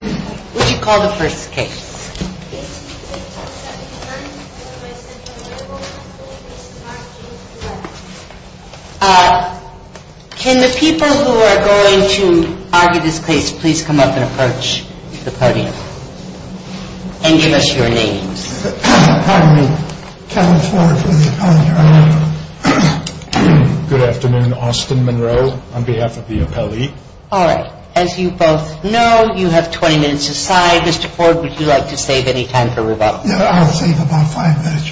What do you call the first case? Can the people who are going to argue this case please come up and approach the podium and give us your names? Good afternoon. Austin Monroe on behalf of the appellee. As you both know, you have 20 minutes aside. Mr. Ford, would you like to save any time for rebuttal? I'll save about five minutes.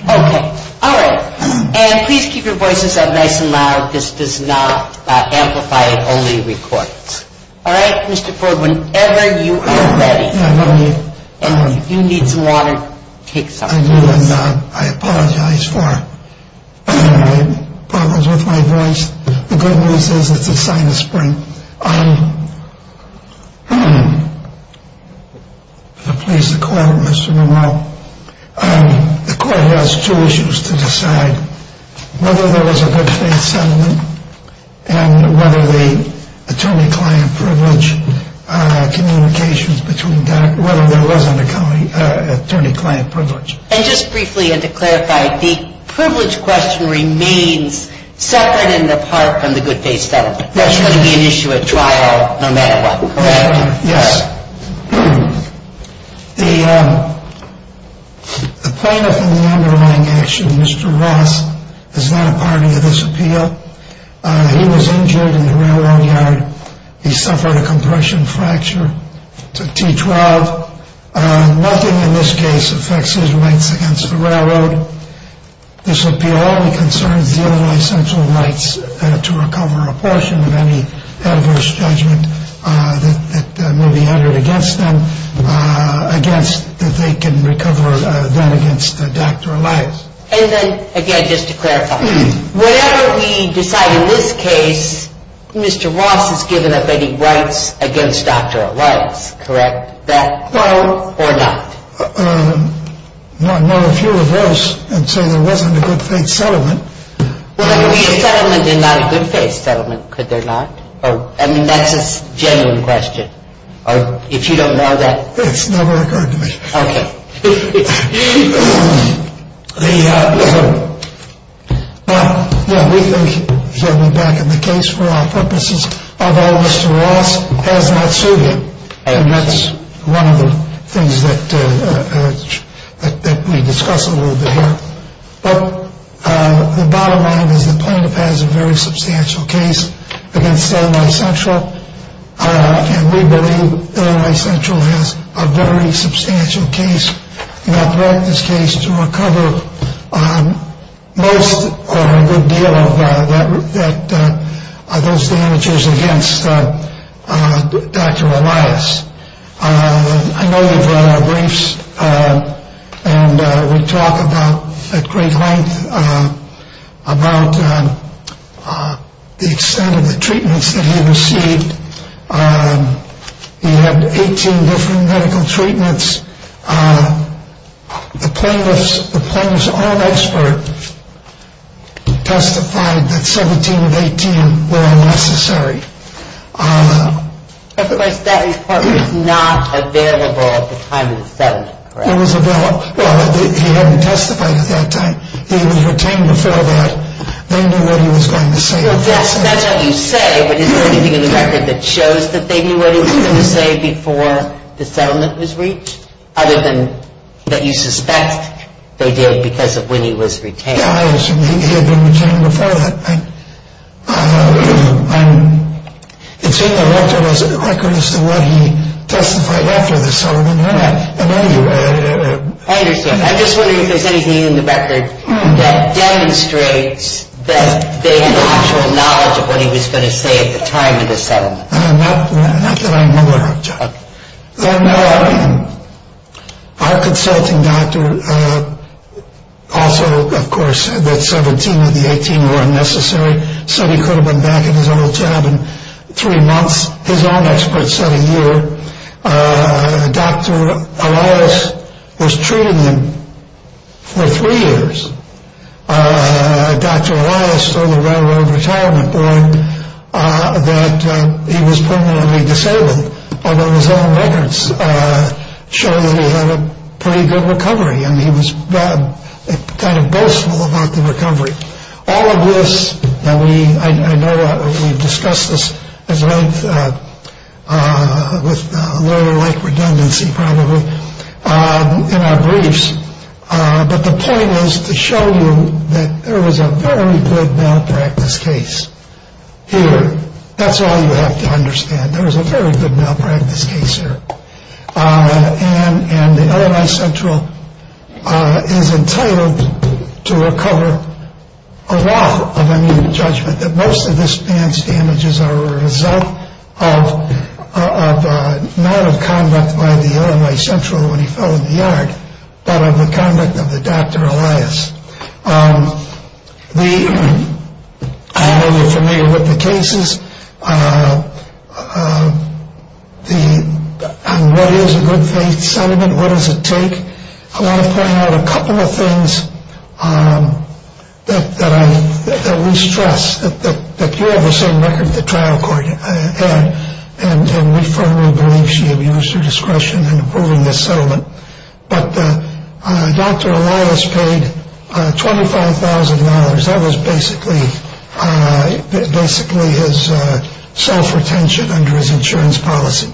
Please keep your voices up nice and loud. This does not amplify. It only records. Mr. Ford, whenever you are ready. If you need some water, take some. I apologize for problems with my voice. The good news is it's a sign of spring. I'm pleased to call Mr. Monroe. The court has two issues to decide. Whether there was a good faith settlement and whether the attorney-client privilege communications between whether there was an attorney-client privilege. And just briefly and to clarify, the privilege question remains separate and apart from the good faith settlement. That's going to be an issue at trial no matter what. Yes. The plaintiff in the underlying action, Mr. Ross, is not a party to this appeal. He was injured in the railroad yard. He suffered a compression fracture to T12. Nothing in this case affects his rights against the railroad. This appeal only concerns the other essential rights to recover a portion of any adverse judgment that may be entered against them. Against that they can recover then against Dr. Elias. And then again, just to clarify, whatever we decide in this case, Mr. Ross has given up any rights against Dr. Elias. Correct? That quote or not? No, if you reverse and say there wasn't a good faith settlement. Well, there could be a settlement and not a good faith settlement, could there not? I mean, that's a genuine question. If you don't know that. It's never occurred to me. Okay. Well, yeah, we think he'll be back in the case for all purposes. Although Mr. Ross has not sued him. And that's one of the things that we discuss a little bit here. But the bottom line is the plaintiff has a very substantial case against LA Central. And we believe LA Central has a very substantial case in our practice case to recover most or a good deal of those damages against Dr. Elias. I know you've read our briefs and we talk about at great length about the extent of the treatments that he received. He had 18 different medical treatments. The plaintiff's own expert testified that 17 of 18 were unnecessary. Of course, that report was not available at the time of the settlement, correct? It was available. Well, he hadn't testified at that time. He was retained before that. They knew what he was going to say. Well, yes, that's what you say. But is there anything in the record that shows that they knew what he was going to say before the settlement was reached? Other than that you suspect they did because of when he was retained. Yeah, he had been retained before that. It's in the record as to what he testified after the settlement. I know you. I understand. I'm just wondering if there's anything in the record that demonstrates that they had actual knowledge of what he was going to say at the time of the settlement. Not that I know of, John. Our consulting doctor also, of course, that 17 of the 18 were unnecessary, said he could have been back in his old job in three months. His own expert said a year. Dr. Elias was treating him for three years. Dr. Elias told the Railroad Retirement Board that he was permanently disabled, although his own records show that he had a pretty good recovery and he was kind of boastful about the recovery. All of this, and I know we've discussed this at length with a little like redundancy probably in our briefs. But the point is to show you that there was a very good malpractice case here. That's all you have to understand. There was a very good malpractice case here. And the LMI Central is entitled to recover a lot of judgment that most of this man's damages are a result of not of conduct by the LMI Central when he fell in the yard, but of the conduct of the Dr. Elias. I know you're familiar with the cases. On what is a good faith settlement, what does it take? I want to point out a couple of things that we stress, that you have the same record as the trial court. And we firmly believe she abused her discretion in approving this settlement. But Dr. Elias paid $25,000. That was basically his self-retention under his insurance policy.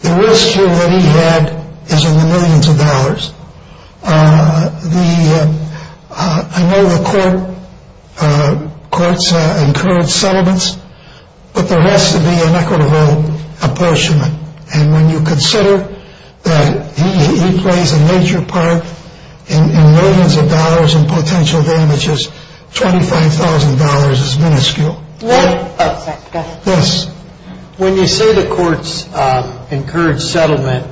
The risk here that he had is in the millions of dollars. When you say the courts encourage settlement.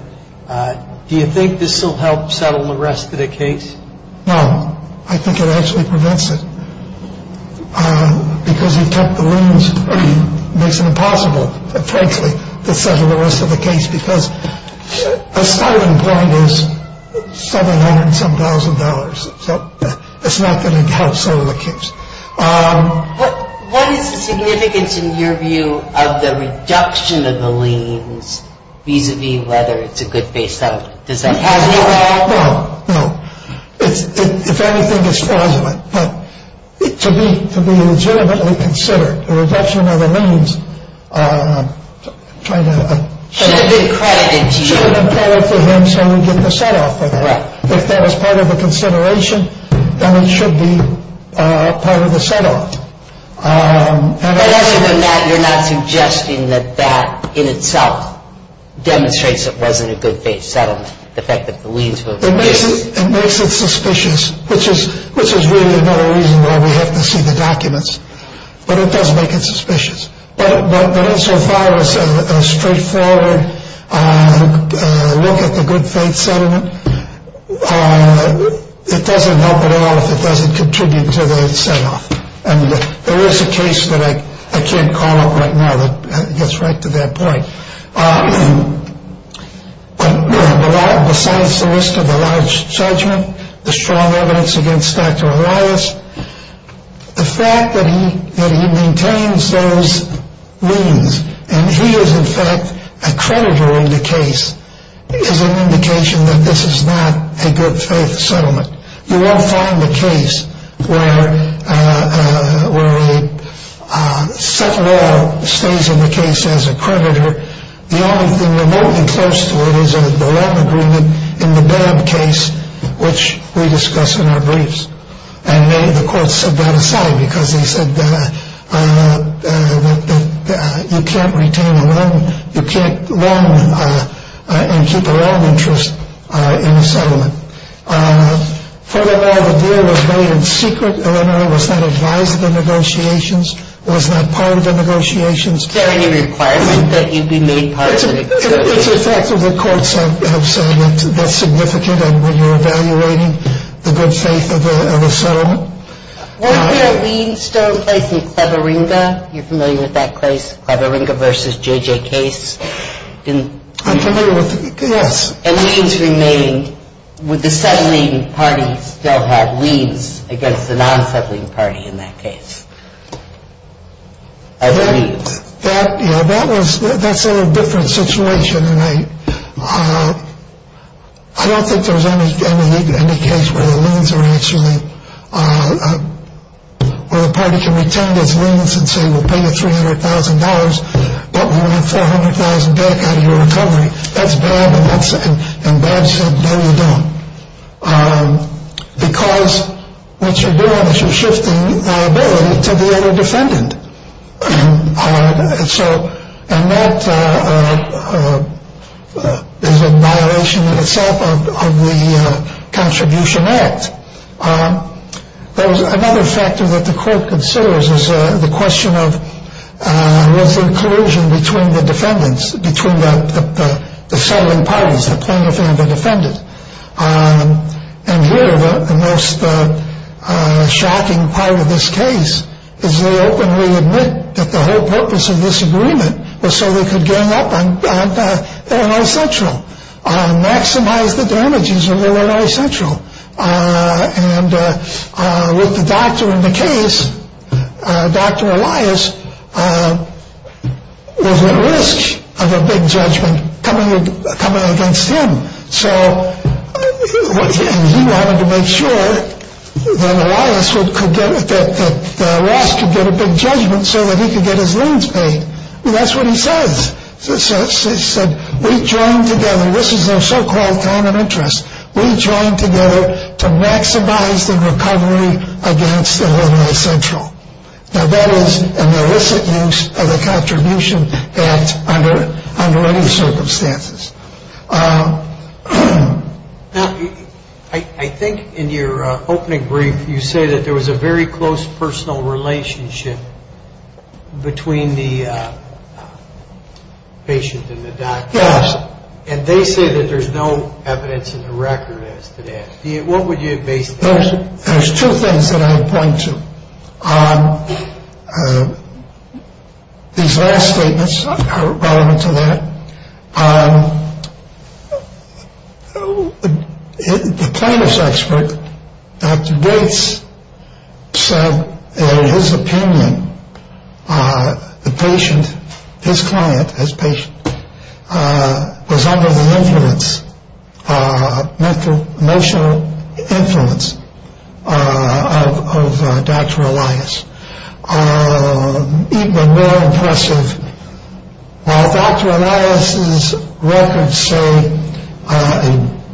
Do you think this will help settle the rest of the case? No. I think it actually prevents it. Because he kept the liens, it makes it impossible, frankly, to settle the rest of the case. Because the starting point is several hundred and some thousand dollars. So it's not going to help settle the case. What is the significance, in your view, of the reduction of the liens vis-a-vis whether it's a good faith settlement? Does that have any role? No. No. If anything, it's fraudulent. But to be legitimately considered, the reduction of the liens, trying to... Should have been credited to you. Should have been credited to him so we get the set off of that. Right. If that was part of the consideration, then it should be part of the set off. But you're not suggesting that that in itself demonstrates it wasn't a good faith settlement, the fact that the liens were... It makes it suspicious, which is really another reason why we have to see the documents. But it does make it suspicious. But insofar as a straightforward look at the good faith settlement, it doesn't help at all if it doesn't contribute to the set off. And there is a case that I can't call up right now that gets right to that point. But besides the risk of a large judgment, the strong evidence against Dr. Elias, the fact that he maintains those liens and he is in fact a creditor in the case is an indication that this is not a good faith settlement. You won't find a case where a set law stays in the case as a creditor. The only thing remotely close to it is a loan agreement in the bad case, which we discuss in our briefs. And the courts set that aside because they said that you can't retain a loan. You can't loan and keep a loan interest in a settlement. Furthermore, the deal was made in secret. Illinois was not advised of the negotiations. It was not part of the negotiations. Is there any requirement that you be made part of the negotiations? It's a fact that the courts have said that's significant. And when you're evaluating the good faith of a settlement. Weren't there liens still in place in Cleveringa? You're familiar with that case, Cleveringa versus J.J. Case? I'm familiar with it, yes. And liens remained. Would the settling parties still have liens against the non-settling party in that case? That's a different situation. And I don't think there's any case where the parties can retain those liens and say we'll pay you $300,000. But we want $400,000 back out of your recovery. That's bad. And Bob said, no, you don't. Because what you're doing is you're shifting liability to the other defendant. And that is a violation in itself of the Contribution Act. Another factor that the court considers is the question of was there collusion between the defendants, between the settling parties, the plaintiff and the defendant. And here the most shocking part of this case is they openly admit that the whole purpose of this agreement was so they could gang up on Illinois Central, maximize the damages of Illinois Central. And with the doctor in the case, Dr. Elias was at risk of a big judgment coming against him. So he wanted to make sure that Elias could get a big judgment so that he could get his liens paid. That's what he says. He said, we joined together. This is their so-called common interest. We joined together to maximize the recovery against Illinois Central. Now, that is an illicit use of the Contribution Act under any circumstances. Now, I think in your opening brief you say that there was a very close personal relationship between the patient and the doctor. Yes. And they say that there's no evidence in the record as to that. What would you base that on? There's two things that I would point to. These last statements are relevant to that. The plaintiff's expert, Dr. Gates, said in his opinion, the patient, his client, his patient, was under the influence, mental, emotional influence of Dr. Elias. Even more impressive, while Dr. Elias' records say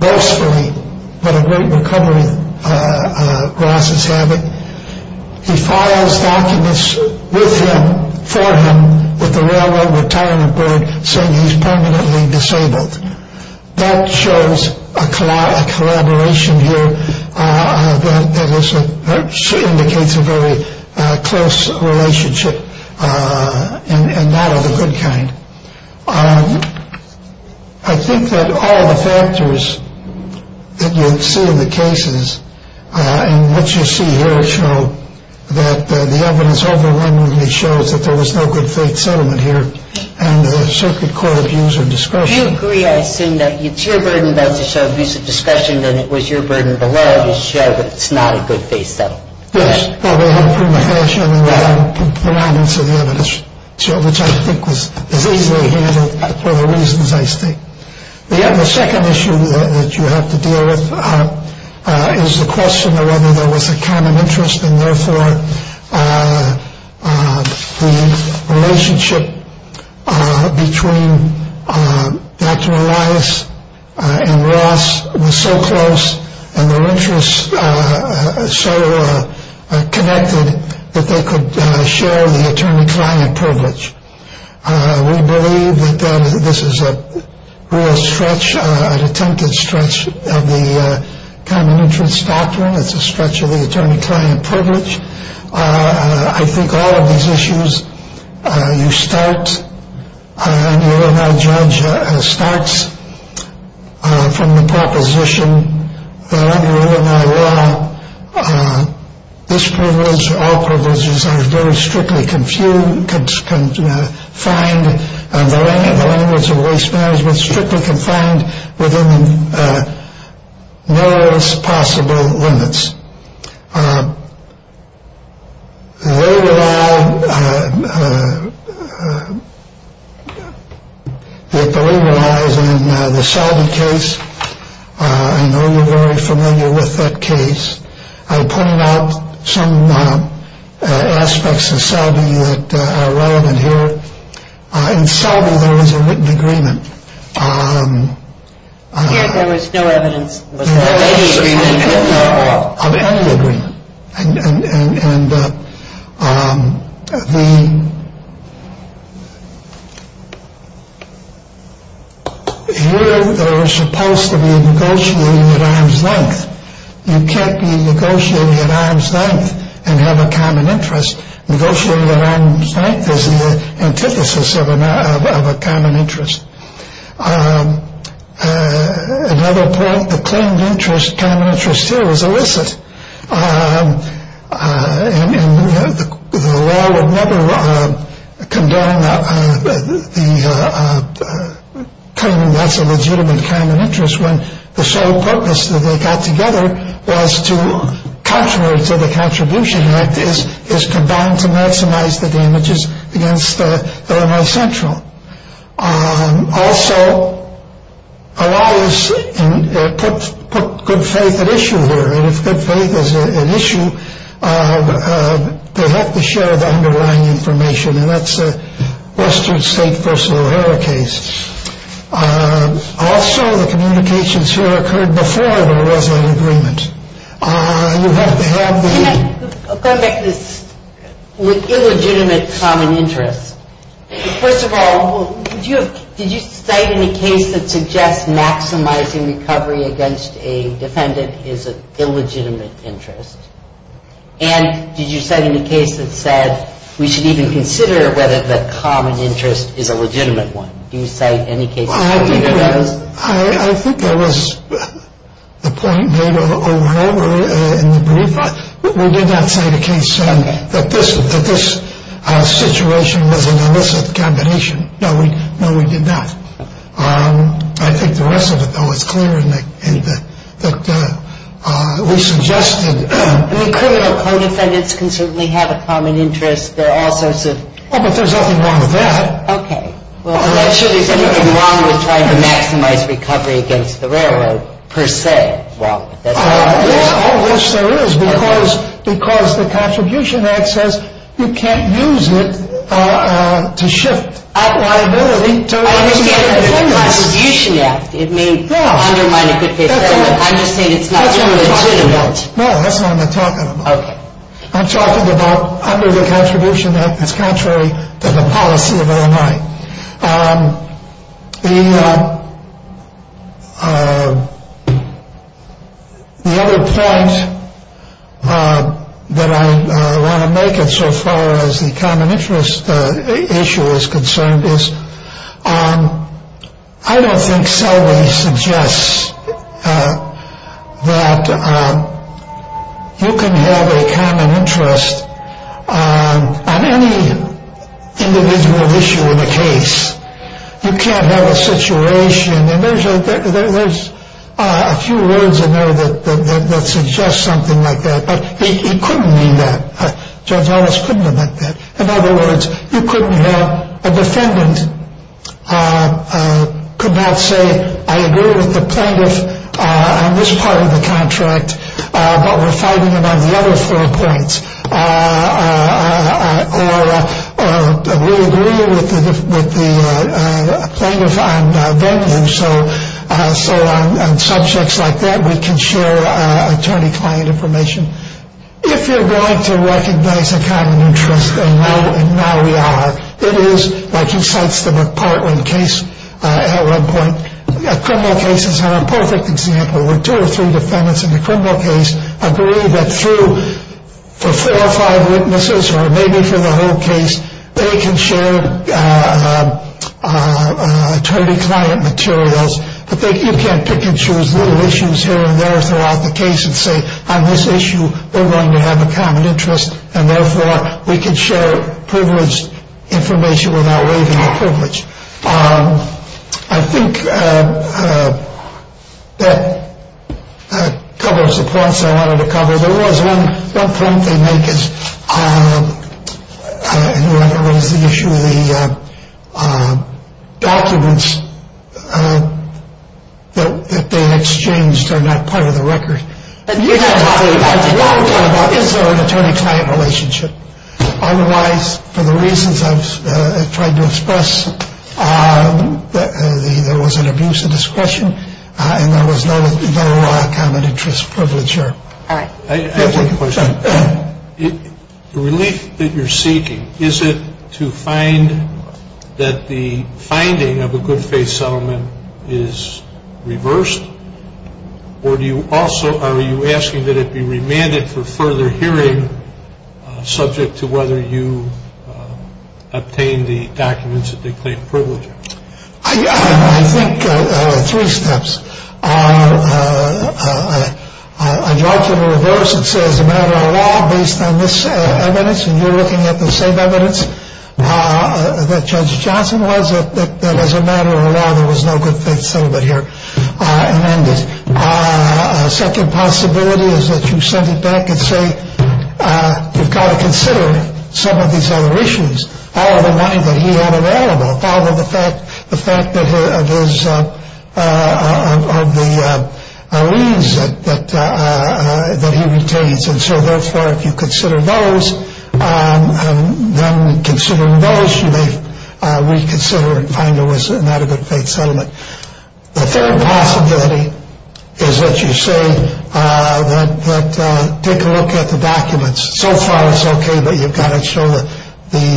boastfully what a great recovery Ross is having, he files documents with him, for him, with the Railroad Retirement Board saying he's permanently disabled. That shows a collaboration here that indicates a very close relationship, and that of a good kind. I think that all the factors that you see in the cases and what you see here show that the evidence overwhelmingly shows that there was no good faith settlement here, and the circuit court views are discretionary. Do you agree, I assume, that it's your burden to show a view of discretion, and it was your burden below to show that it's not a good faith settlement? Yes. Well, we had a prima facie, and then we had the remnants of the evidence, which I think was easily handled for the reasons I state. The second issue that you have to deal with is the question of whether there was a common interest, and therefore the relationship between Dr. Elias and Ross was so close and their interests so connected that they could share the attorney-client privilege. We believe that this is a real stretch, an attempted stretch of the common interest doctrine. It's a stretch of the attorney-client privilege. I think all of these issues you start, and the Illinois judge starts from the proposition that under Illinois law, this privilege or all privileges are very strictly confined, and the language of waste management is strictly confined within the narrowest possible limits. The labor law is in the Selby case. I know you're very familiar with that case. I pointed out some aspects of Selby that are relevant here. In Selby, there was a written agreement. Yes, there was no evidence. There was no evidence of any agreement. And here they were supposed to be negotiating at arm's length. You can't be negotiating at arm's length and have a common interest. Negotiating at arm's length is the antithesis of a common interest. Another point, the claim of interest, common interest here, was illicit. And the law would never condemn the claim that's a legitimate common interest when the sole purpose that they got together was to contrary to the Contribution Act to maximize the damages against the Illinois Central. Also, a law is put good faith at issue here. And if good faith is an issue, they have to share the underlying information, and that's a Western State personal error case. Also, the communications here occurred before there was an agreement. Can I come back to this illegitimate common interest? First of all, did you cite any case that suggests maximizing recovery against a defendant is an illegitimate interest? And did you cite any case that said we should even consider whether the common interest is a legitimate one? Do you cite any case that said either of those? I think there was a point made over and over in the brief. We did not cite a case that this situation was an illicit combination. No, we did not. I think the rest of it, though, is clear in that we suggested. I mean, criminal co-defendants can certainly have a common interest. There are all sorts of. Oh, but there's nothing wrong with that. Okay. Well, I'm not sure there's anything wrong with trying to maximize recovery against the railroad, per se. Well, I wish there is, because the Contribution Act says you can't use it to shift liability. I understand the Contribution Act. It may undermine a good faith fair. I'm just saying it's not legitimate. No, that's not what I'm talking about. Okay. I'm talking about under the Contribution Act. It's contrary to the policy of Illinois. The other point that I want to make it so far as the common interest issue is concerned is. I don't think Selway suggests that you can have a common interest on any individual issue in a case. You can't have a situation. And there's a few words in there that suggest something like that. But it couldn't be that. Judge Ellis couldn't have meant that. In other words, you couldn't have a defendant could not say, I agree with the plaintiff on this part of the contract, but we're fighting it on the other four points. Or we agree with the plaintiff on venue. So on subjects like that, we can share attorney-client information. If you're going to recognize a common interest, and now we are. It is like he cites the McPartland case at one point. A criminal case is a perfect example where two or three defendants in a criminal case agree that through four or five witnesses, or maybe for the whole case, they can share attorney-client materials. But you can't pick and choose little issues here and there throughout the case and say on this issue, we're going to have a common interest and therefore we can share privileged information without waiving the privilege. I think that covers the points I wanted to cover. One point they make is the issue of the documents that they exchanged are not part of the record. Is there an attorney-client relationship? Otherwise, for the reasons I've tried to express, there was an abuse of discretion and there was no common interest privilege here. All right. I have one question. The relief that you're seeking, is it to find that the finding of a good faith settlement is reversed? Or are you asking that it be remanded for further hearing subject to whether you obtain the documents that they claim privilege? I think there are three steps. On your argument of reverse, it says a matter of law based on this evidence, and you're looking at the same evidence that Judge Johnson was, that as a matter of law there was no good faith settlement here amended. A second possibility is that you send it back and say you've got to consider some of these other issues. All of the money that he had available, part of the fact that his, of the leaves that he retains. And so, therefore, if you consider those, then considering those, you may reconsider and find it was not a good faith settlement. The third possibility is that you say that, take a look at the documents. So far, it's okay, but you've got to show the,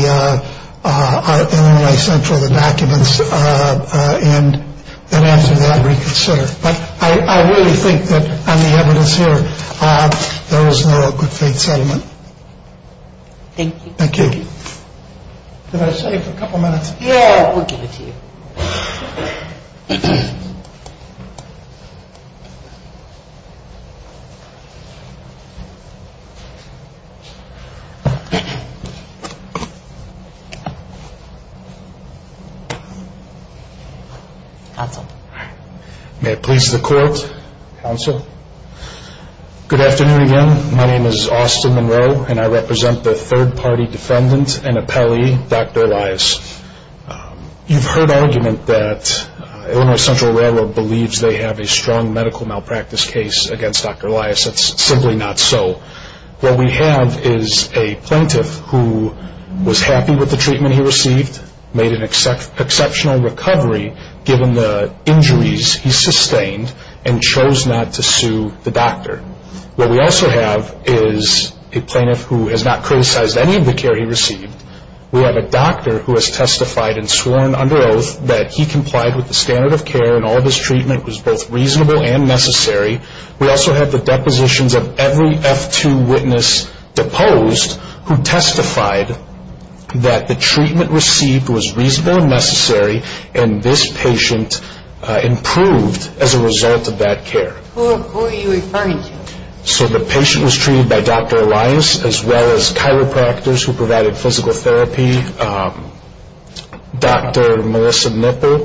in a way, central the documents. And then after that, reconsider. But I really think that on the evidence here, there was no good faith settlement. Thank you. Thank you. Did I save a couple minutes? Yeah. We'll give it to you. Counsel. May it please the court. Counsel. Good afternoon again. My name is Austin Monroe, and I represent the third-party defendant and appellee, Dr. Elias. You've heard argument that Illinois Central Railroad believes they have a strong medical malpractice case against Dr. Elias. It's simply not so. What we have is a plaintiff who was happy with the treatment he received, made an exceptional recovery given the injuries he sustained, and chose not to sue the doctor. What we also have is a plaintiff who has not criticized any of the care he received. We have a doctor who has testified and sworn under oath that he complied with the standard of care and all of his treatment was both reasonable and necessary. We also have the depositions of every F-2 witness deposed who testified that the treatment received was reasonable and necessary, and this patient improved as a result of that care. Who are you referring to? So the patient was treated by Dr. Elias, as well as chiropractors who provided physical therapy, Dr. Melissa Nipper,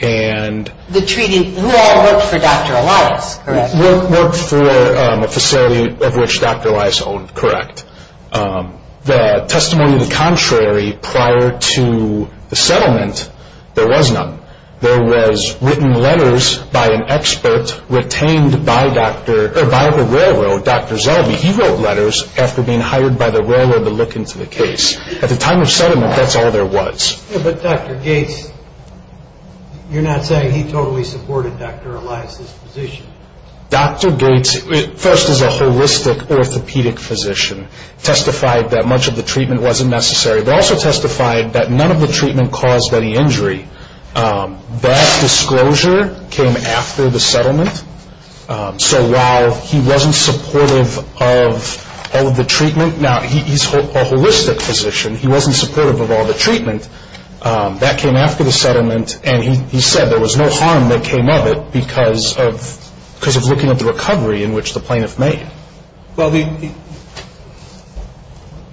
and... Who all worked for Dr. Elias, correct? Worked for a facility of which Dr. Elias owned, correct. The testimony to the contrary prior to the settlement, there was none. There was written letters by an expert retained by the railroad, Dr. Zellwey. He wrote letters after being hired by the railroad to look into the case. At the time of settlement, that's all there was. But Dr. Gates, you're not saying he totally supported Dr. Elias' position? Dr. Gates, first as a holistic orthopedic physician, testified that much of the treatment wasn't necessary, but also testified that none of the treatment caused any injury. That disclosure came after the settlement, so while he wasn't supportive of all of the treatment, Now, he's a holistic physician. He wasn't supportive of all the treatment. That came after the settlement, and he said there was no harm that came of it because of looking at the recovery in which the plaintiff made. Well, the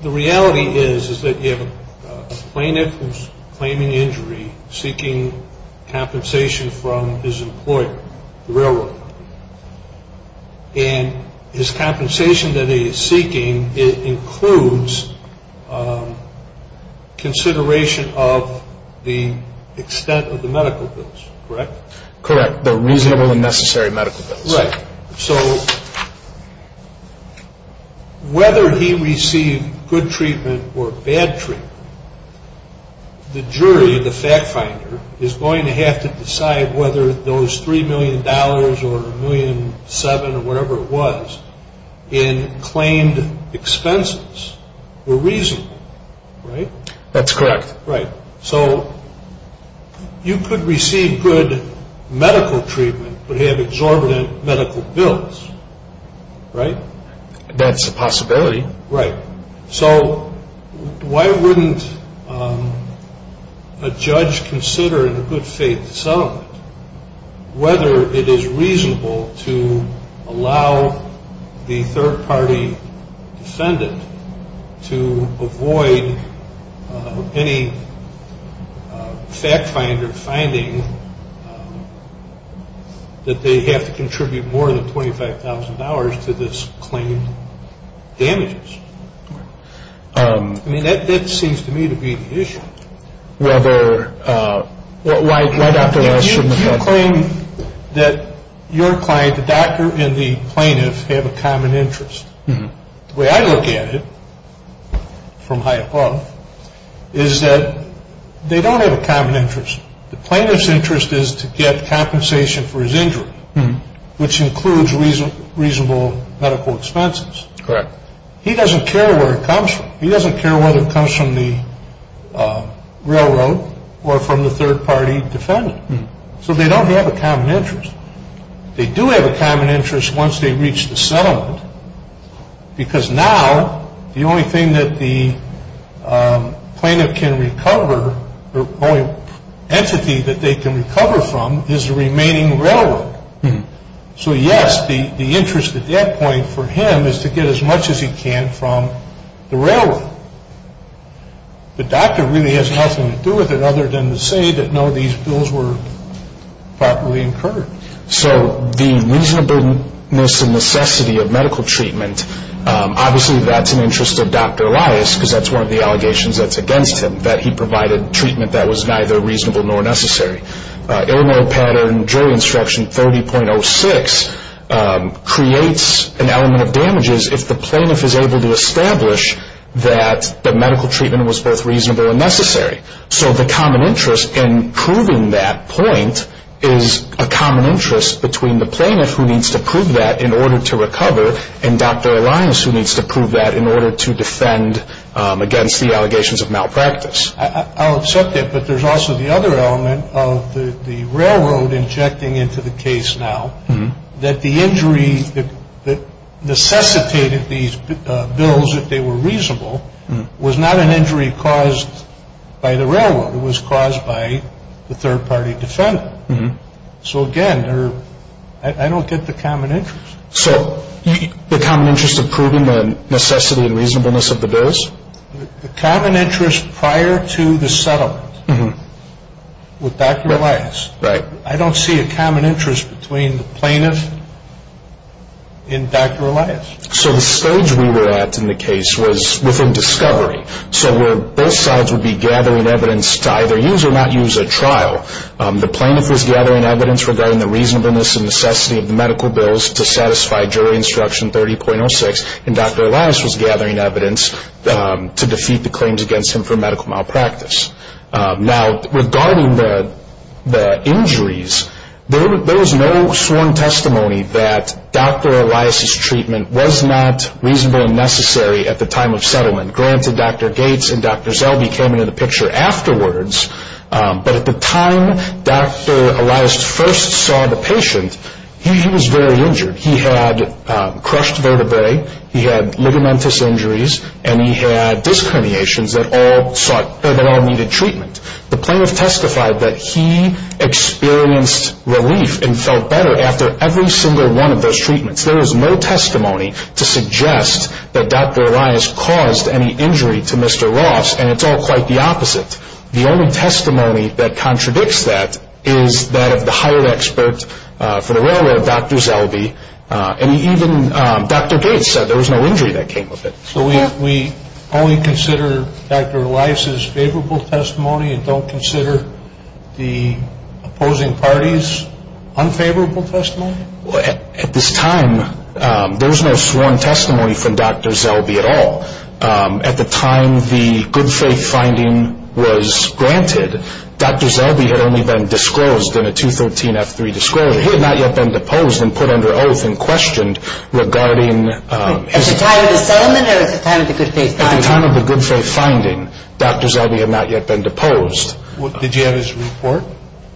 reality is that you have a plaintiff who's claiming injury, seeking compensation from his employer, the railroad. And his compensation that he is seeking includes consideration of the extent of the medical bills, correct? Correct, the reasonable and necessary medical bills. Right. So whether he received good treatment or bad treatment, the jury, the fact finder, is going to have to decide whether those $3 million or $1.7 million or whatever it was in claimed expenses were reasonable, right? That's correct. Right. So you could receive good medical treatment but have exorbitant medical bills, right? That's a possibility. Right. So why wouldn't a judge consider in a good faith settlement whether it is reasonable to allow the third party defendant to avoid any fact finder finding that they have to contribute more than $25,000 to this claimed damages? Right. I mean, that seems to me to be the issue. Rather, why Dr. Walsh? You claim that your client, the doctor and the plaintiff, have a common interest. The way I look at it from high above is that they don't have a common interest. The plaintiff's interest is to get compensation for his injury, which includes reasonable medical expenses. Correct. He doesn't care where it comes from. He doesn't care whether it comes from the railroad or from the third party defendant. So they don't have a common interest. They do have a common interest once they reach the settlement, because now the only thing that the plaintiff can recover, the only entity that they can recover from is the remaining railroad. So, yes, the interest at that point for him is to get as much as he can from the railroad. The doctor really has nothing to do with it other than to say that, no, these bills were properly incurred. So the reasonableness and necessity of medical treatment, obviously that's in the interest of Dr. Elias, because that's one of the allegations that's against him, that he provided treatment that was neither reasonable nor necessary. Illinois pattern jury instruction 30.06 creates an element of damages. If the plaintiff is able to establish that the medical treatment was both reasonable and necessary. So the common interest in proving that point is a common interest between the plaintiff, who needs to prove that in order to recover, and Dr. Elias, who needs to prove that in order to defend against the allegations of malpractice. I'll accept that, but there's also the other element of the railroad injecting into the case now, that the injury that necessitated these bills, if they were reasonable, was not an injury caused by the railroad. It was caused by the third-party defendant. So, again, I don't get the common interest. So the common interest of proving the necessity and reasonableness of the bills? The common interest prior to the settlement with Dr. Elias. Right. I don't see a common interest between the plaintiff and Dr. Elias. So the stage we were at in the case was within discovery. So where both sides would be gathering evidence to either use or not use at trial, the plaintiff was gathering evidence regarding the reasonableness and necessity of the medical bills to satisfy jury instruction 30.06, and Dr. Elias was gathering evidence to defeat the claims against him for medical malpractice. Now, regarding the injuries, there was no sworn testimony that Dr. Elias' treatment was not reasonable and necessary at the time of settlement. Granted, Dr. Gates and Dr. Zelby came into the picture afterwards, but at the time Dr. Elias first saw the patient, he was very injured. He had crushed vertebrae, he had ligamentous injuries, and he had disc herniations that all needed treatment. The plaintiff testified that he experienced relief and felt better after every single one of those treatments. There is no testimony to suggest that Dr. Elias caused any injury to Mr. Ross, and it's all quite the opposite. The only testimony that contradicts that is that of the hired expert for the railroad, Dr. Zelby, and even Dr. Gates said there was no injury that came of it. So we only consider Dr. Elias' favorable testimony and don't consider the opposing parties' unfavorable testimony? At this time, there was no sworn testimony from Dr. Zelby at all. At the time the good faith finding was granted, Dr. Zelby had only been disclosed in a 213F3 disclosure. He had not yet been deposed and put under oath and questioned regarding his- At the time of the settlement or at the time of the good faith finding? At the time of the good faith finding, Dr. Zelby had not yet been deposed. Did you have his report?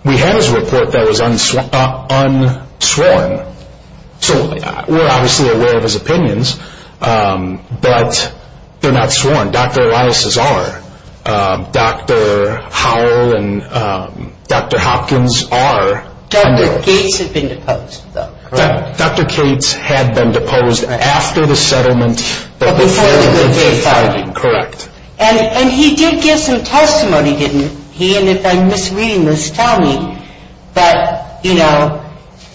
We had his report that was unsworn. So we're obviously aware of his opinions, but they're not sworn. Dr. Elias' are. Dr. Howell and Dr. Hopkins are. Dr. Gates had been deposed though, correct? Dr. Gates had been deposed after the settlement- But before the good faith finding? Correct. And he did give some testimony, didn't he? And if I'm misreading this, tell me. But, you know,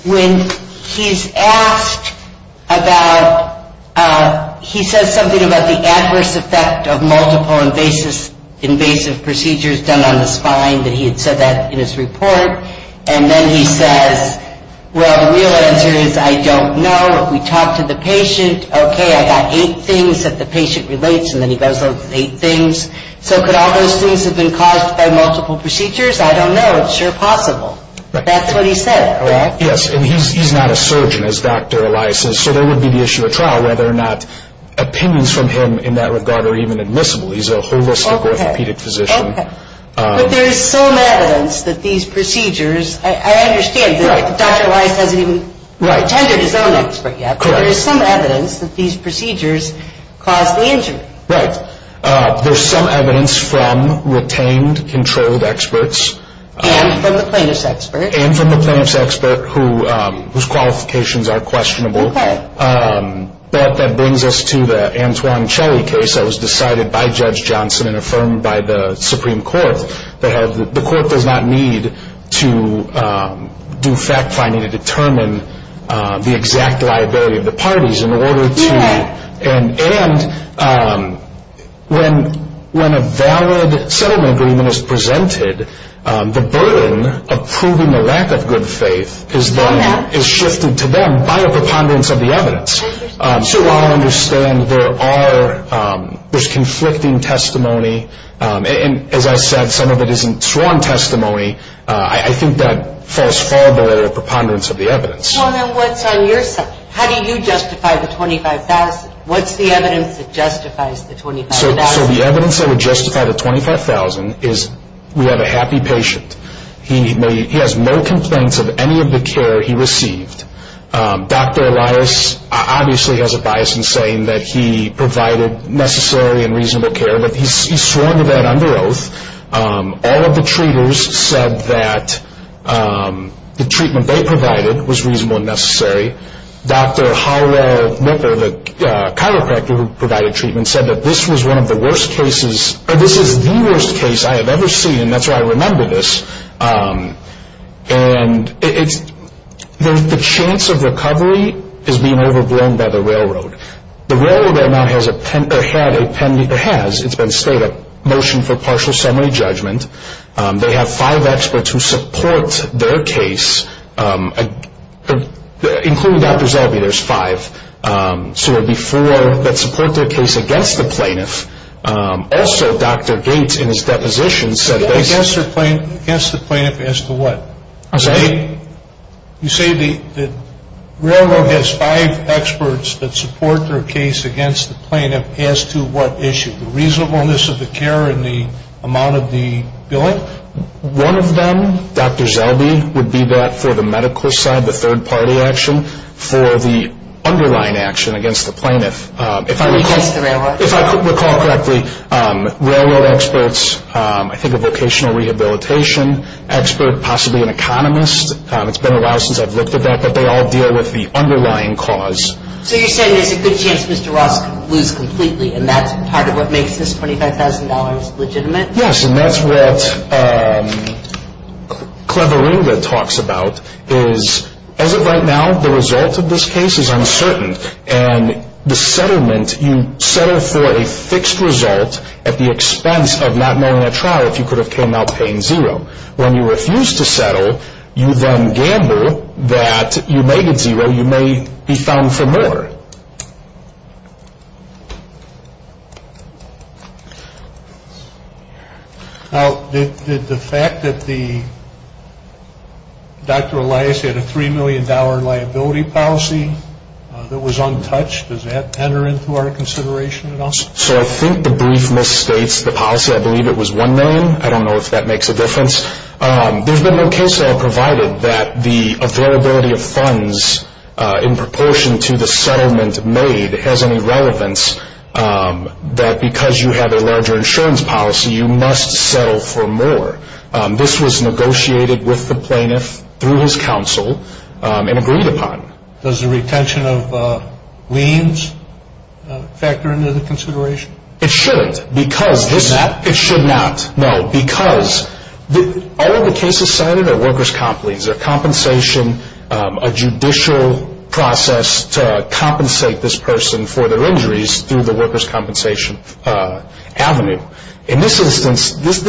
when he's asked about- He says something about the adverse effect of multiple invasive procedures done on the spine, that he had said that in his report. And then he says, well, the real answer is I don't know. If we talk to the patient, okay, I got eight things that the patient relates, and then he goes, oh, eight things. So could all those things have been caused by multiple procedures? I don't know. It's sure possible. That's what he said, correct? Yes, and he's not a surgeon, as Dr. Elias says. So there would be the issue of trial, whether or not opinions from him in that regard are even admissible. He's a holistic orthopedic physician. Okay, okay. But there is some evidence that these procedures- I understand that Dr. Elias hasn't even attended his own expert yet. Correct. But there is some evidence that these procedures caused the injury. Right. There's some evidence from retained, controlled experts. And from the plaintiff's expert. And from the plaintiff's expert, whose qualifications are questionable. Okay. But that brings us to the Antoine Shelley case that was decided by Judge Johnson and affirmed by the Supreme Court. The Court does not need to do fact-finding to determine the exact liability of the parties in order to- Correct. And when a valid settlement agreement is presented, the burden of proving the lack of good faith is shifted to them by a preponderance of the evidence. So I understand there's conflicting testimony, and as I said, some of it isn't sworn testimony. I think that falls far below the preponderance of the evidence. So then what's on your side? How do you justify the $25,000? What's the evidence that justifies the $25,000? So the evidence that would justify the $25,000 is we have a happy patient. He has no complaints of any of the care he received. Dr. Elias obviously has a bias in saying that he provided necessary and reasonable care, but he's sworn to that under oath. All of the treaters said that the treatment they provided was reasonable and necessary. Dr. Howell Knicker, the chiropractor who provided treatment, said that this is the worst case I have ever seen, and that's why I remember this. And the chance of recovery is being overblown by the railroad. The railroad now has a motion for partial summary judgment. They have five experts who support their case, including Dr. Zellwey. There's five. So it would be four that support their case against the plaintiff. Also, Dr. Gates, in his deposition, said this. I'm sorry? You say the railroad has five experts that support their case against the plaintiff. As to what issue? The reasonableness of the care and the amount of the billing? One of them, Dr. Zellwey, would be that for the medical side, the third party action for the underlying action against the plaintiff. Against the railroad. If I recall correctly, railroad experts, I think a vocational rehabilitation expert, possibly an economist, it's been a while since I've looked at that, but they all deal with the underlying cause. So you're saying there's a good chance Mr. Ross could lose completely, and that's part of what makes this $25,000 legitimate? Yes, and that's what Cleverula talks about, is as of right now, the result of this case is uncertain, and the settlement, you settle for a fixed result at the expense of not knowing at trial if you could have came out paying zero. When you refuse to settle, you then gamble that you may get zero, you may be found for more. Now, did the fact that Dr. Elias had a $3 million liability policy that was untouched, does that enter into our consideration at all? So I think the brief misstates the policy. I believe it was $1 million. I don't know if that makes a difference. There's been no case law provided that the availability of funds in proportion to the settlement made has any relevance that because you have a larger insurance policy, you must settle for more. This was negotiated with the plaintiff through his counsel and agreed upon. Does the retention of liens factor into the consideration? It shouldn't. It should not? No, because all of the cases cited are workers' complaints. They're compensation, a judicial process to compensate this person for their injuries through the workers' compensation avenue. In this instance, these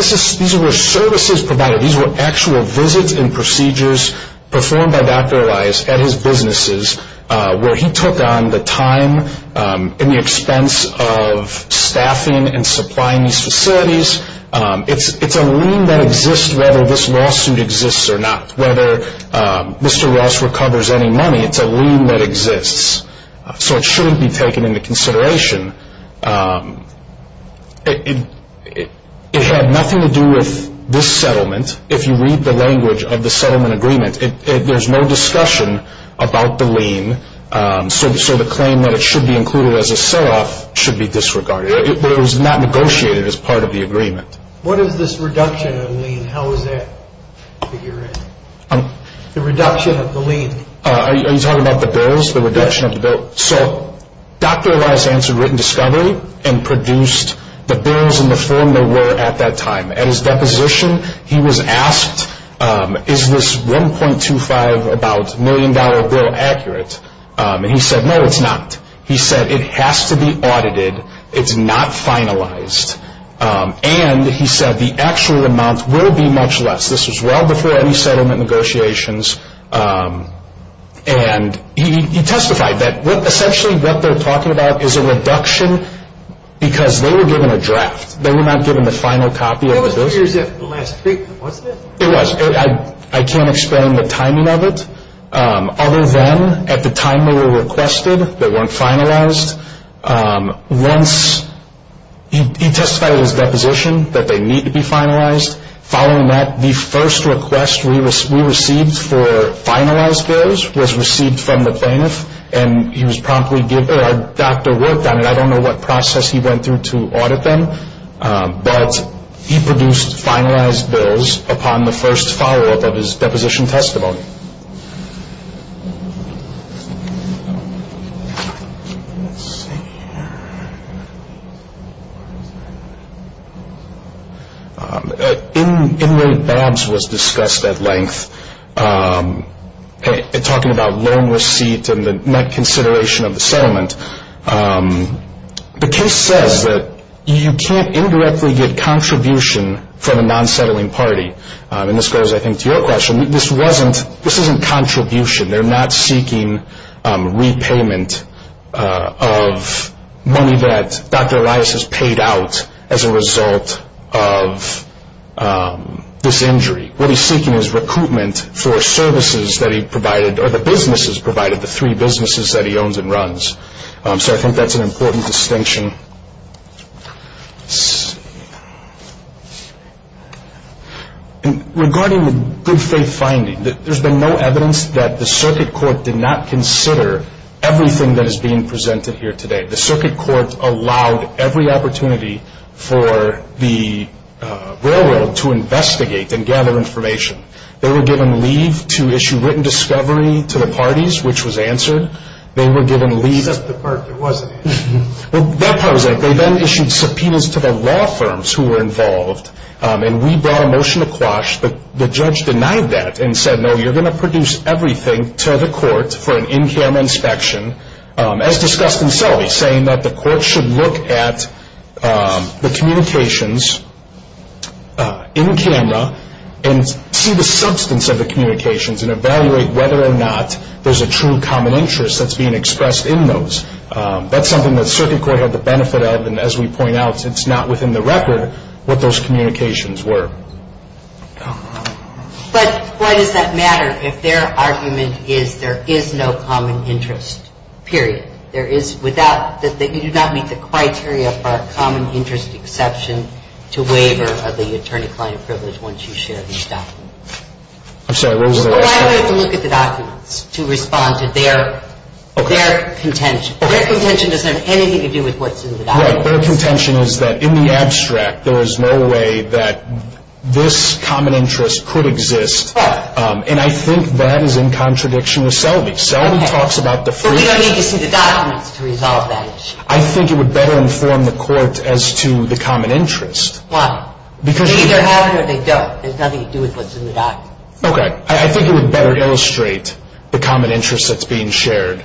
were services provided. These were actual visits and procedures performed by Dr. Elias at his businesses where he took on the time and the expense of staffing and supplying these facilities. It's a lien that exists whether this lawsuit exists or not. Whether Mr. Ross recovers any money, it's a lien that exists. So it shouldn't be taken into consideration. It had nothing to do with this settlement. If you read the language of the settlement agreement, there's no discussion about the lien, so the claim that it should be included as a sell-off should be disregarded. It was not negotiated as part of the agreement. What is this reduction of lien? How is that figured out? The reduction of the lien. Are you talking about the bills, the reduction of the bill? Yes. So Dr. Elias answered written discovery and produced the bills in the form they were at that time. At his deposition, he was asked, is this $1.25 million bill accurate? And he said, no, it's not. He said it has to be audited. It's not finalized. And he said the actual amount will be much less. This was well before any settlement negotiations. And he testified that essentially what they're talking about is a reduction because they were given a draft. They were not given the final copy of the bills. It was three years after the last treatment, wasn't it? It was. I can't explain the timing of it. Other than at the time they were requested, they weren't finalized. Once he testified at his deposition that they need to be finalized, following that, the first request we received for finalized bills was received from the plaintiff, and he was promptly given or a doctor worked on it. I don't know what process he went through to audit them, but he produced finalized bills upon the first follow-up of his deposition testimony. Let's see here. Inmate Babs was discussed at length talking about loan receipt and the net consideration of the settlement. The case says that you can't indirectly get contribution from a non-settling party, and this goes, I think, to your question. This isn't contribution. They're not seeking repayment of money that Dr. Elias has paid out as a result of this injury. What he's seeking is recoupment for services that he provided or the businesses provided, the three businesses that he owns and runs. So I think that's an important distinction. Regarding the good faith finding, there's been no evidence that the circuit court did not consider everything that is being presented here today. The circuit court allowed every opportunity for the railroad to investigate and gather information. They were given leave to issue written discovery to the parties, which was answered. Except the part that wasn't answered. Well, that part was answered. They then issued subpoenas to the law firms who were involved, and we brought a motion to quash. The judge denied that and said, no, you're going to produce everything to the court for an in-camera inspection, as discussed in Sully, saying that the court should look at the communications in camera and see the substance of the communications and evaluate whether or not there's a true common interest that's being expressed in those. That's something the circuit court had the benefit of, and as we point out, it's not within the record what those communications were. But why does that matter if their argument is there is no common interest, period? You do not meet the criteria for a common interest exception to waiver of the attorney-client privilege once you share these documents. I'm sorry. I would have to look at the documents to respond to their contention. Their contention doesn't have anything to do with what's in the documents. Right. Their contention is that in the abstract, there is no way that this common interest could exist. Right. And I think that is in contradiction with Sully. But we don't need to see the documents to resolve that issue. I think it would better inform the court as to the common interest. Why? They either have it or they don't. There's nothing to do with what's in the documents. Okay. I think it would better illustrate the common interest that's being shared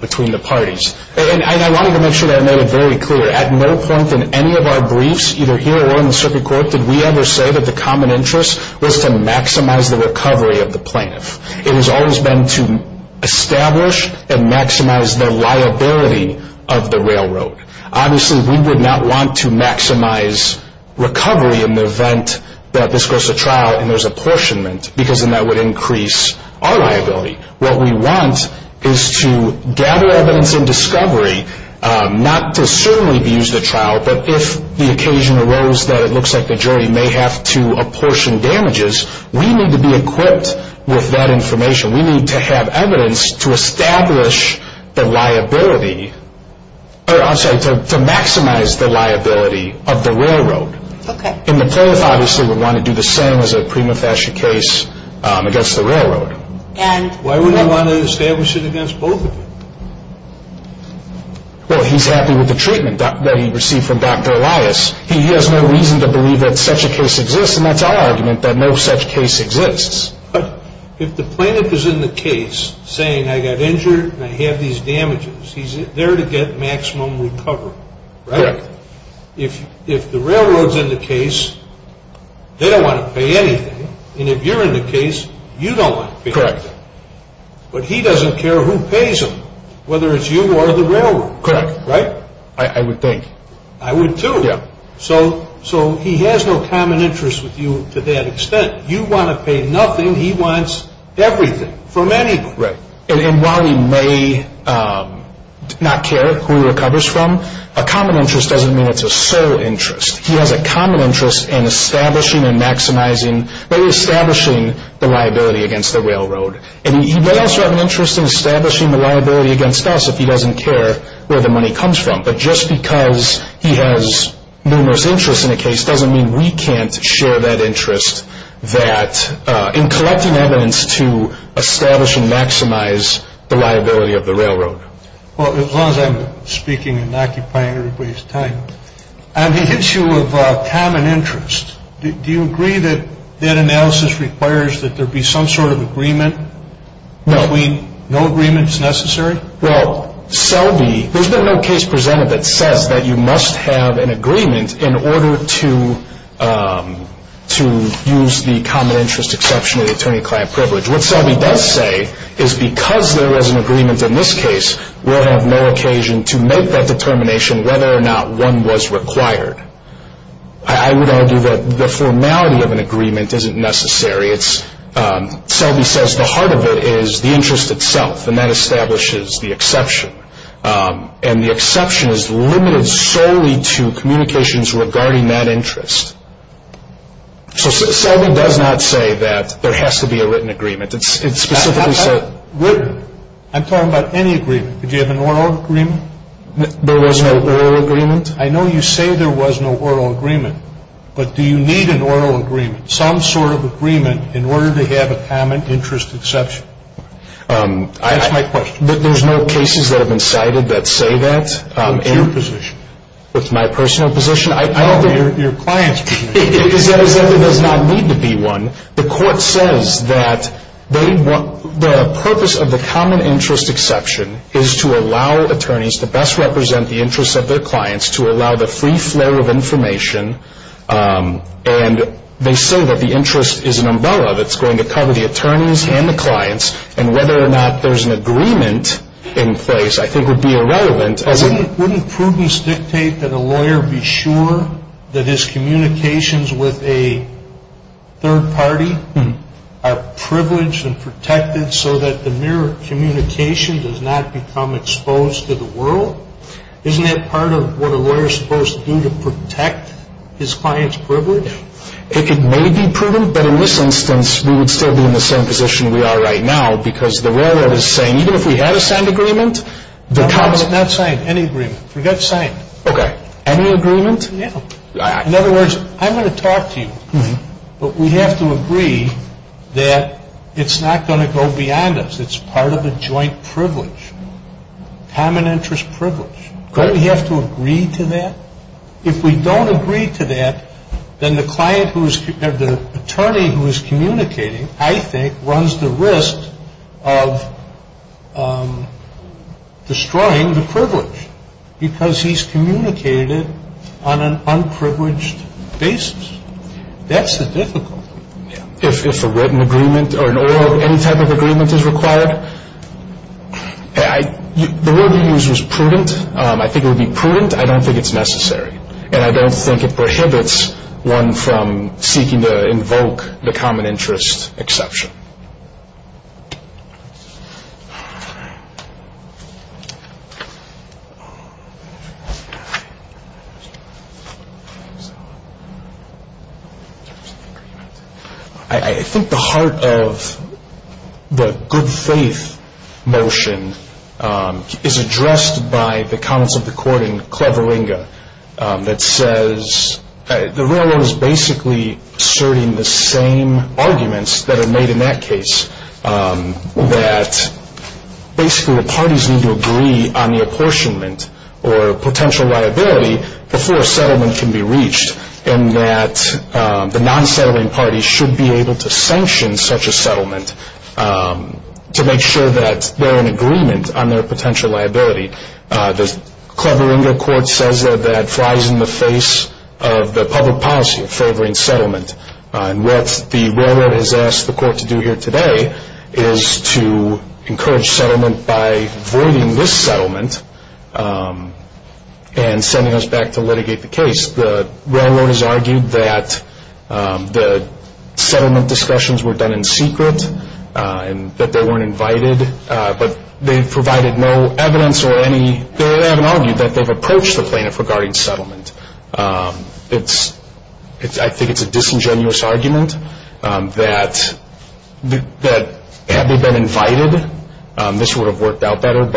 between the parties. And I wanted to make sure that I made it very clear. At no point in any of our briefs, either here or in the circuit court, did we ever say that the common interest was to maximize the recovery of the plaintiff. It has always been to establish and maximize the liability of the railroad. Obviously, we would not want to maximize recovery in the event that this goes to trial and there's apportionment because then that would increase our liability. What we want is to gather evidence in discovery, not to certainly be used at trial, but if the occasion arose that it looks like the jury may have to apportion damages, we need to be equipped with that information. We need to have evidence to establish the liability, or I'm sorry, to maximize the liability of the railroad. Okay. And the plaintiff obviously would want to do the same as a prima facie case against the railroad. Why would he want to establish it against both of them? Well, he's happy with the treatment that he received from Dr. Elias. He has no reason to believe that such a case exists, and that's our argument that no such case exists. But if the plaintiff is in the case saying, I got injured and I have these damages, he's there to get maximum recovery, right? Correct. If the railroad's in the case, they don't want to pay anything, and if you're in the case, you don't want to pay anything. Correct. But he doesn't care who pays him, whether it's you or the railroad. Correct. Right? I would think. I would, too. Yeah. So he has no common interest with you to that extent. You want to pay nothing. He wants everything, from any point. Right. And while he may not care who he recovers from, a common interest doesn't mean it's a sole interest. He has a common interest in establishing and maximizing, really establishing the liability against the railroad. And he may also have an interest in establishing the liability against us if he doesn't care where the money comes from. But just because he has numerous interests in the case doesn't mean we can't share that interest, that in collecting evidence to establish and maximize the liability of the railroad. Well, as long as I'm speaking and occupying everybody's time, on the issue of common interest, do you agree that that analysis requires that there be some sort of agreement between no agreements necessary? Well, Selby, there's been no case presented that says that you must have an agreement in order to use the common interest exception of the attorney-client privilege. What Selby does say is because there is an agreement in this case, we'll have no occasion to make that determination whether or not one was required. I would argue that the formality of an agreement isn't necessary. Selby says the heart of it is the interest itself, and that establishes the exception. And the exception is limited solely to communications regarding that interest. So Selby does not say that there has to be a written agreement. It's specifically said- I'm talking about any agreement. Did you have an oral agreement? There was no oral agreement. I know you say there was no oral agreement, but do you need an oral agreement, some sort of agreement in order to have a common interest exception? That's my question. There's no cases that have been cited that say that. What's your position? What's my personal position? Your client's position. Because that does not need to be one. The court says that the purpose of the common interest exception is to allow attorneys to best represent the interests of their clients, to allow the free flow of information, and they say that the interest is an umbrella that's going to cover the attorneys and the clients, and whether or not there's an agreement in place I think would be irrelevant. Wouldn't prudence dictate that a lawyer be sure that his communications with a third party are privileged and protected so that the mere communication does not become exposed to the world? Isn't that part of what a lawyer is supposed to do to protect his client's privilege? It may be prudent, but in this instance we would still be in the same position we are right now because the railroad is saying even if we had a signed agreement, the common interest. Not signed. Any agreement. Forget signed. Okay. Any agreement? No. In other words, I'm going to talk to you, but we have to agree that it's not going to go beyond us. It's part of a joint privilege. Common interest privilege. Okay. Don't we have to agree to that? If we don't agree to that, then the attorney who is communicating I think runs the risk of destroying the privilege because he's communicated on an unprivileged basis. That's the difficulty. If a written agreement or an oral, any type of agreement is required, the word you used was prudent. I think it would be prudent. I don't think it's necessary, and I don't think it prohibits one from seeking to invoke the common interest exception. Okay. I think the heart of the good faith motion is addressed by the comments of the court in Clevelinga that says the rule is basically asserting the same arguments that are made in that case, that basically the parties need to agree on the apportionment or potential liability before a settlement can be reached, and that the non-settling parties should be able to sanction such a settlement to make sure that they're in agreement on their potential liability. The Clevelinga court says that that flies in the face of the public policy of favoring settlement, and what the railroad has asked the court to do here today is to encourage settlement by voiding this settlement and sending us back to litigate the case. The railroad has argued that the settlement discussions were done in secret and that they weren't invited, but they've provided no evidence or any, they haven't argued that they've approached the plaintiff regarding settlement. I think it's a disingenuous argument that had they been invited, this would have worked out better.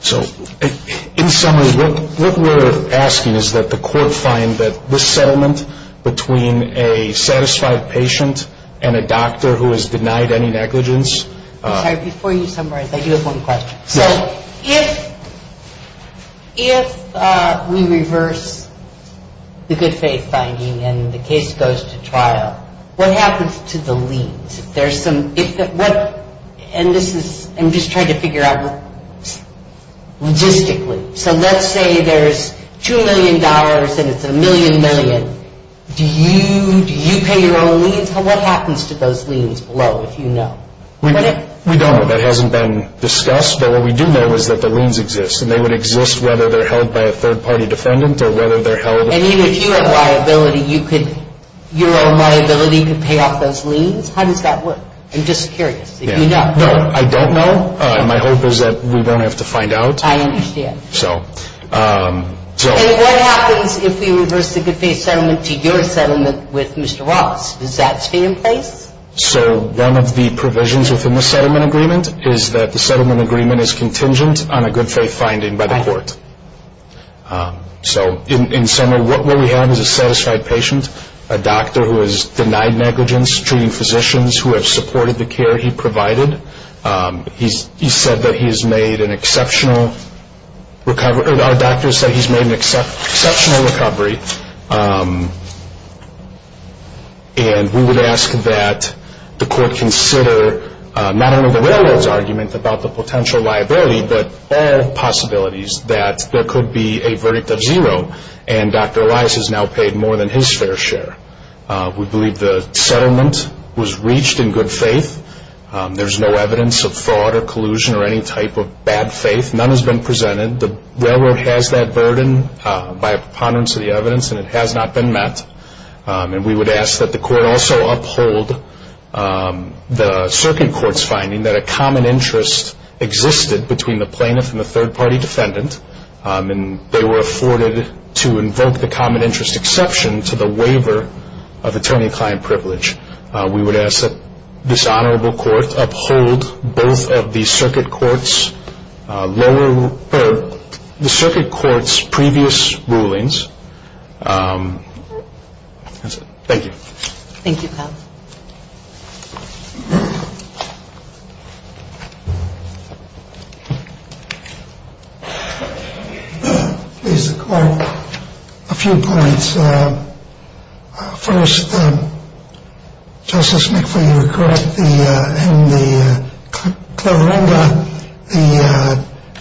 So in summary, what we're asking is that the court find that this settlement between a satisfied patient and a doctor who has denied any negligence. Sorry, before you summarize, I do have one question. So if we reverse the good faith finding and the case goes to trial, what happens to the liens? There's some, and this is, I'm just trying to figure out logistically. So let's say there's $2 million and it's a million million. Do you pay your own liens? What happens to those liens below if you know? We don't know. That hasn't been discussed, but what we do know is that the liens exist, and they would exist whether they're held by a third party defendant or whether they're held. And even if you have liability, you could, your own liability could pay off those liens? How does that work? I'm just curious if you know. No, I don't know. My hope is that we won't have to find out. I understand. So. And what happens if we reverse the good faith settlement to your settlement with Mr. Ross? Does that stay in place? So one of the provisions within the settlement agreement is that the settlement agreement is contingent on a good faith finding by the court. So in summary, what we have is a satisfied patient, a doctor who has denied negligence, treating physicians who have supported the care he provided. He said that he has made an exceptional recovery. Our doctor said he's made an exceptional recovery. And we would ask that the court consider not only the railroad's argument about the potential liability, but all possibilities that there could be a verdict of zero, and Dr. Elias has now paid more than his fair share. We believe the settlement was reached in good faith. There's no evidence of fraud or collusion or any type of bad faith. None has been presented. The railroad has that burden by a preponderance of the evidence, and it has not been met. And we would ask that the court also uphold the circuit court's finding that a common interest existed between the plaintiff and the third-party defendant, and they were afforded to invoke the common interest exception to the waiver of attorney-client privilege. We would ask that this honorable court uphold both of the circuit court's previous rulings. That's it. Thank you. Thank you, Pat. Please, the court. A few points. First, Justice McPhee, you were correct in the Clairenda,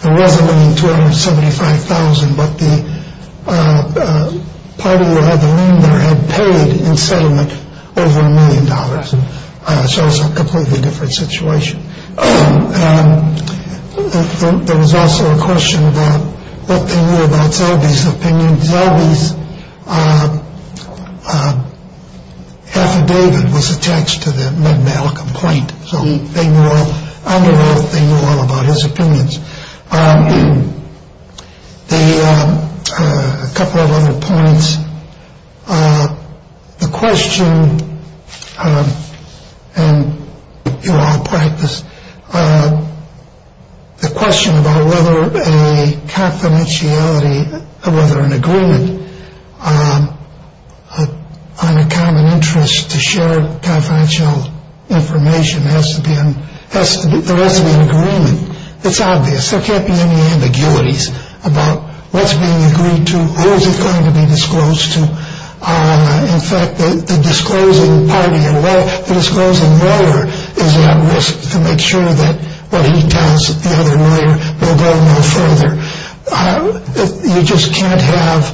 the resolving $275,000, but the party who had the room there had paid in settlement over a million dollars, so it's a completely different situation. There was also a question about what they knew about Zellbee's opinion. Zellbee's affidavit was attached to the Med-Mal complaint, so under oath they knew all about his opinions. A couple of other points. The question, and you all practiced, the question about whether a confidentiality, whether an agreement on a common interest to share confidential information has to be, there has to be an agreement. It's obvious. There can't be any ambiguities about what's being agreed to or is it going to be disclosed to. In fact, the disclosing lawyer is at risk to make sure that what he tells the other lawyer will go no further. You just can't have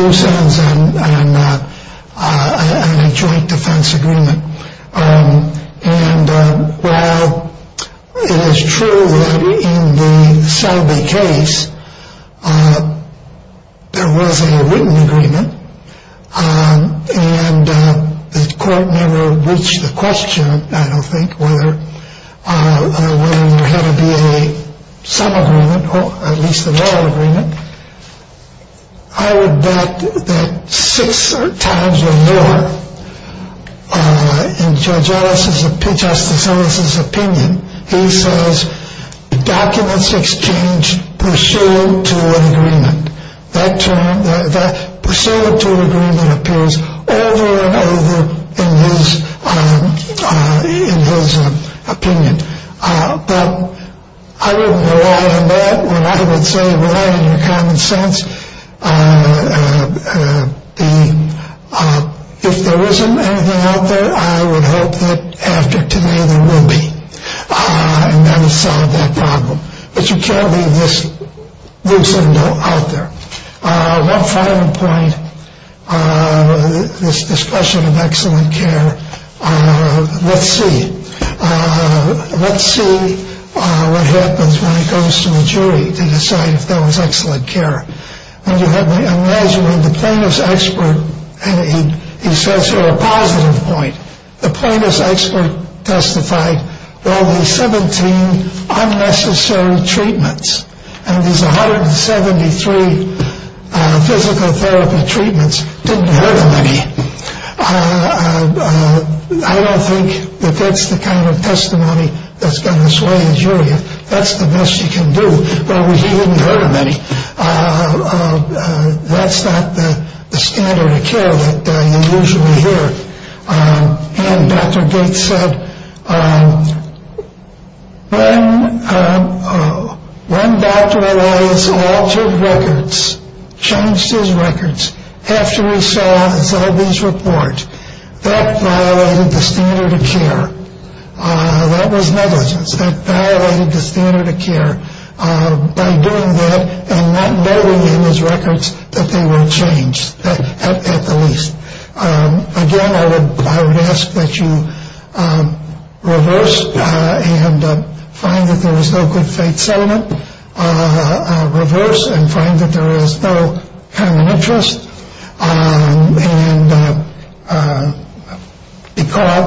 loose ends in a joint defense agreement. And while it is true that in the Zellbee case there was a written agreement and the court never reached the question, I don't think, whether there had to be some agreement, or at least a law agreement, I would bet that six times or more in Judge Ellis's opinion, he says documents exchanged pursuant to an agreement. That pursuant to an agreement appears over and over in his opinion. But I wouldn't rely on that when I would say rely on your common sense. If there isn't anything out there, I would hope that after today there will be. And that will solve that problem. But you can't leave this loose end out there. One final point, this discussion of excellent care, let's see. Let's see what happens when it goes to the jury to decide if that was excellent care. I imagine when the plaintiff's expert, and he says here a positive point, the plaintiff's expert testified there are only 17 unnecessary treatments. And these 173 physical therapy treatments didn't hurt anybody. I don't think that that's the kind of testimony that's going to sway the jury. That's the best you can do. But he didn't hurt them any. That's not the standard of care that you usually hear. And Dr. Gates said, when Dr. Elias altered records, changed his records, after he saw Zellbee's report, that violated the standard of care. That was negligence. That violated the standard of care by doing that and not knowing in his records that they were changed at the least. Again, I would ask that you reverse and find that there is no good faith sentiment. Reverse and find that there is no common interest. And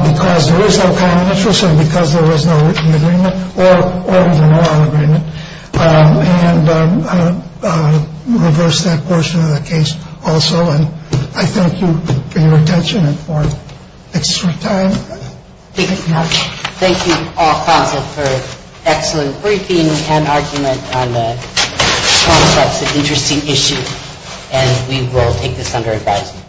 because there is no common interest and because there was no written agreement or the moral agreement, and reverse that portion of the case also. And I thank you for your attention and for extra time. Thank you all for an excellent briefing and argument on the concepts of interesting issues. And we will take this under advisement.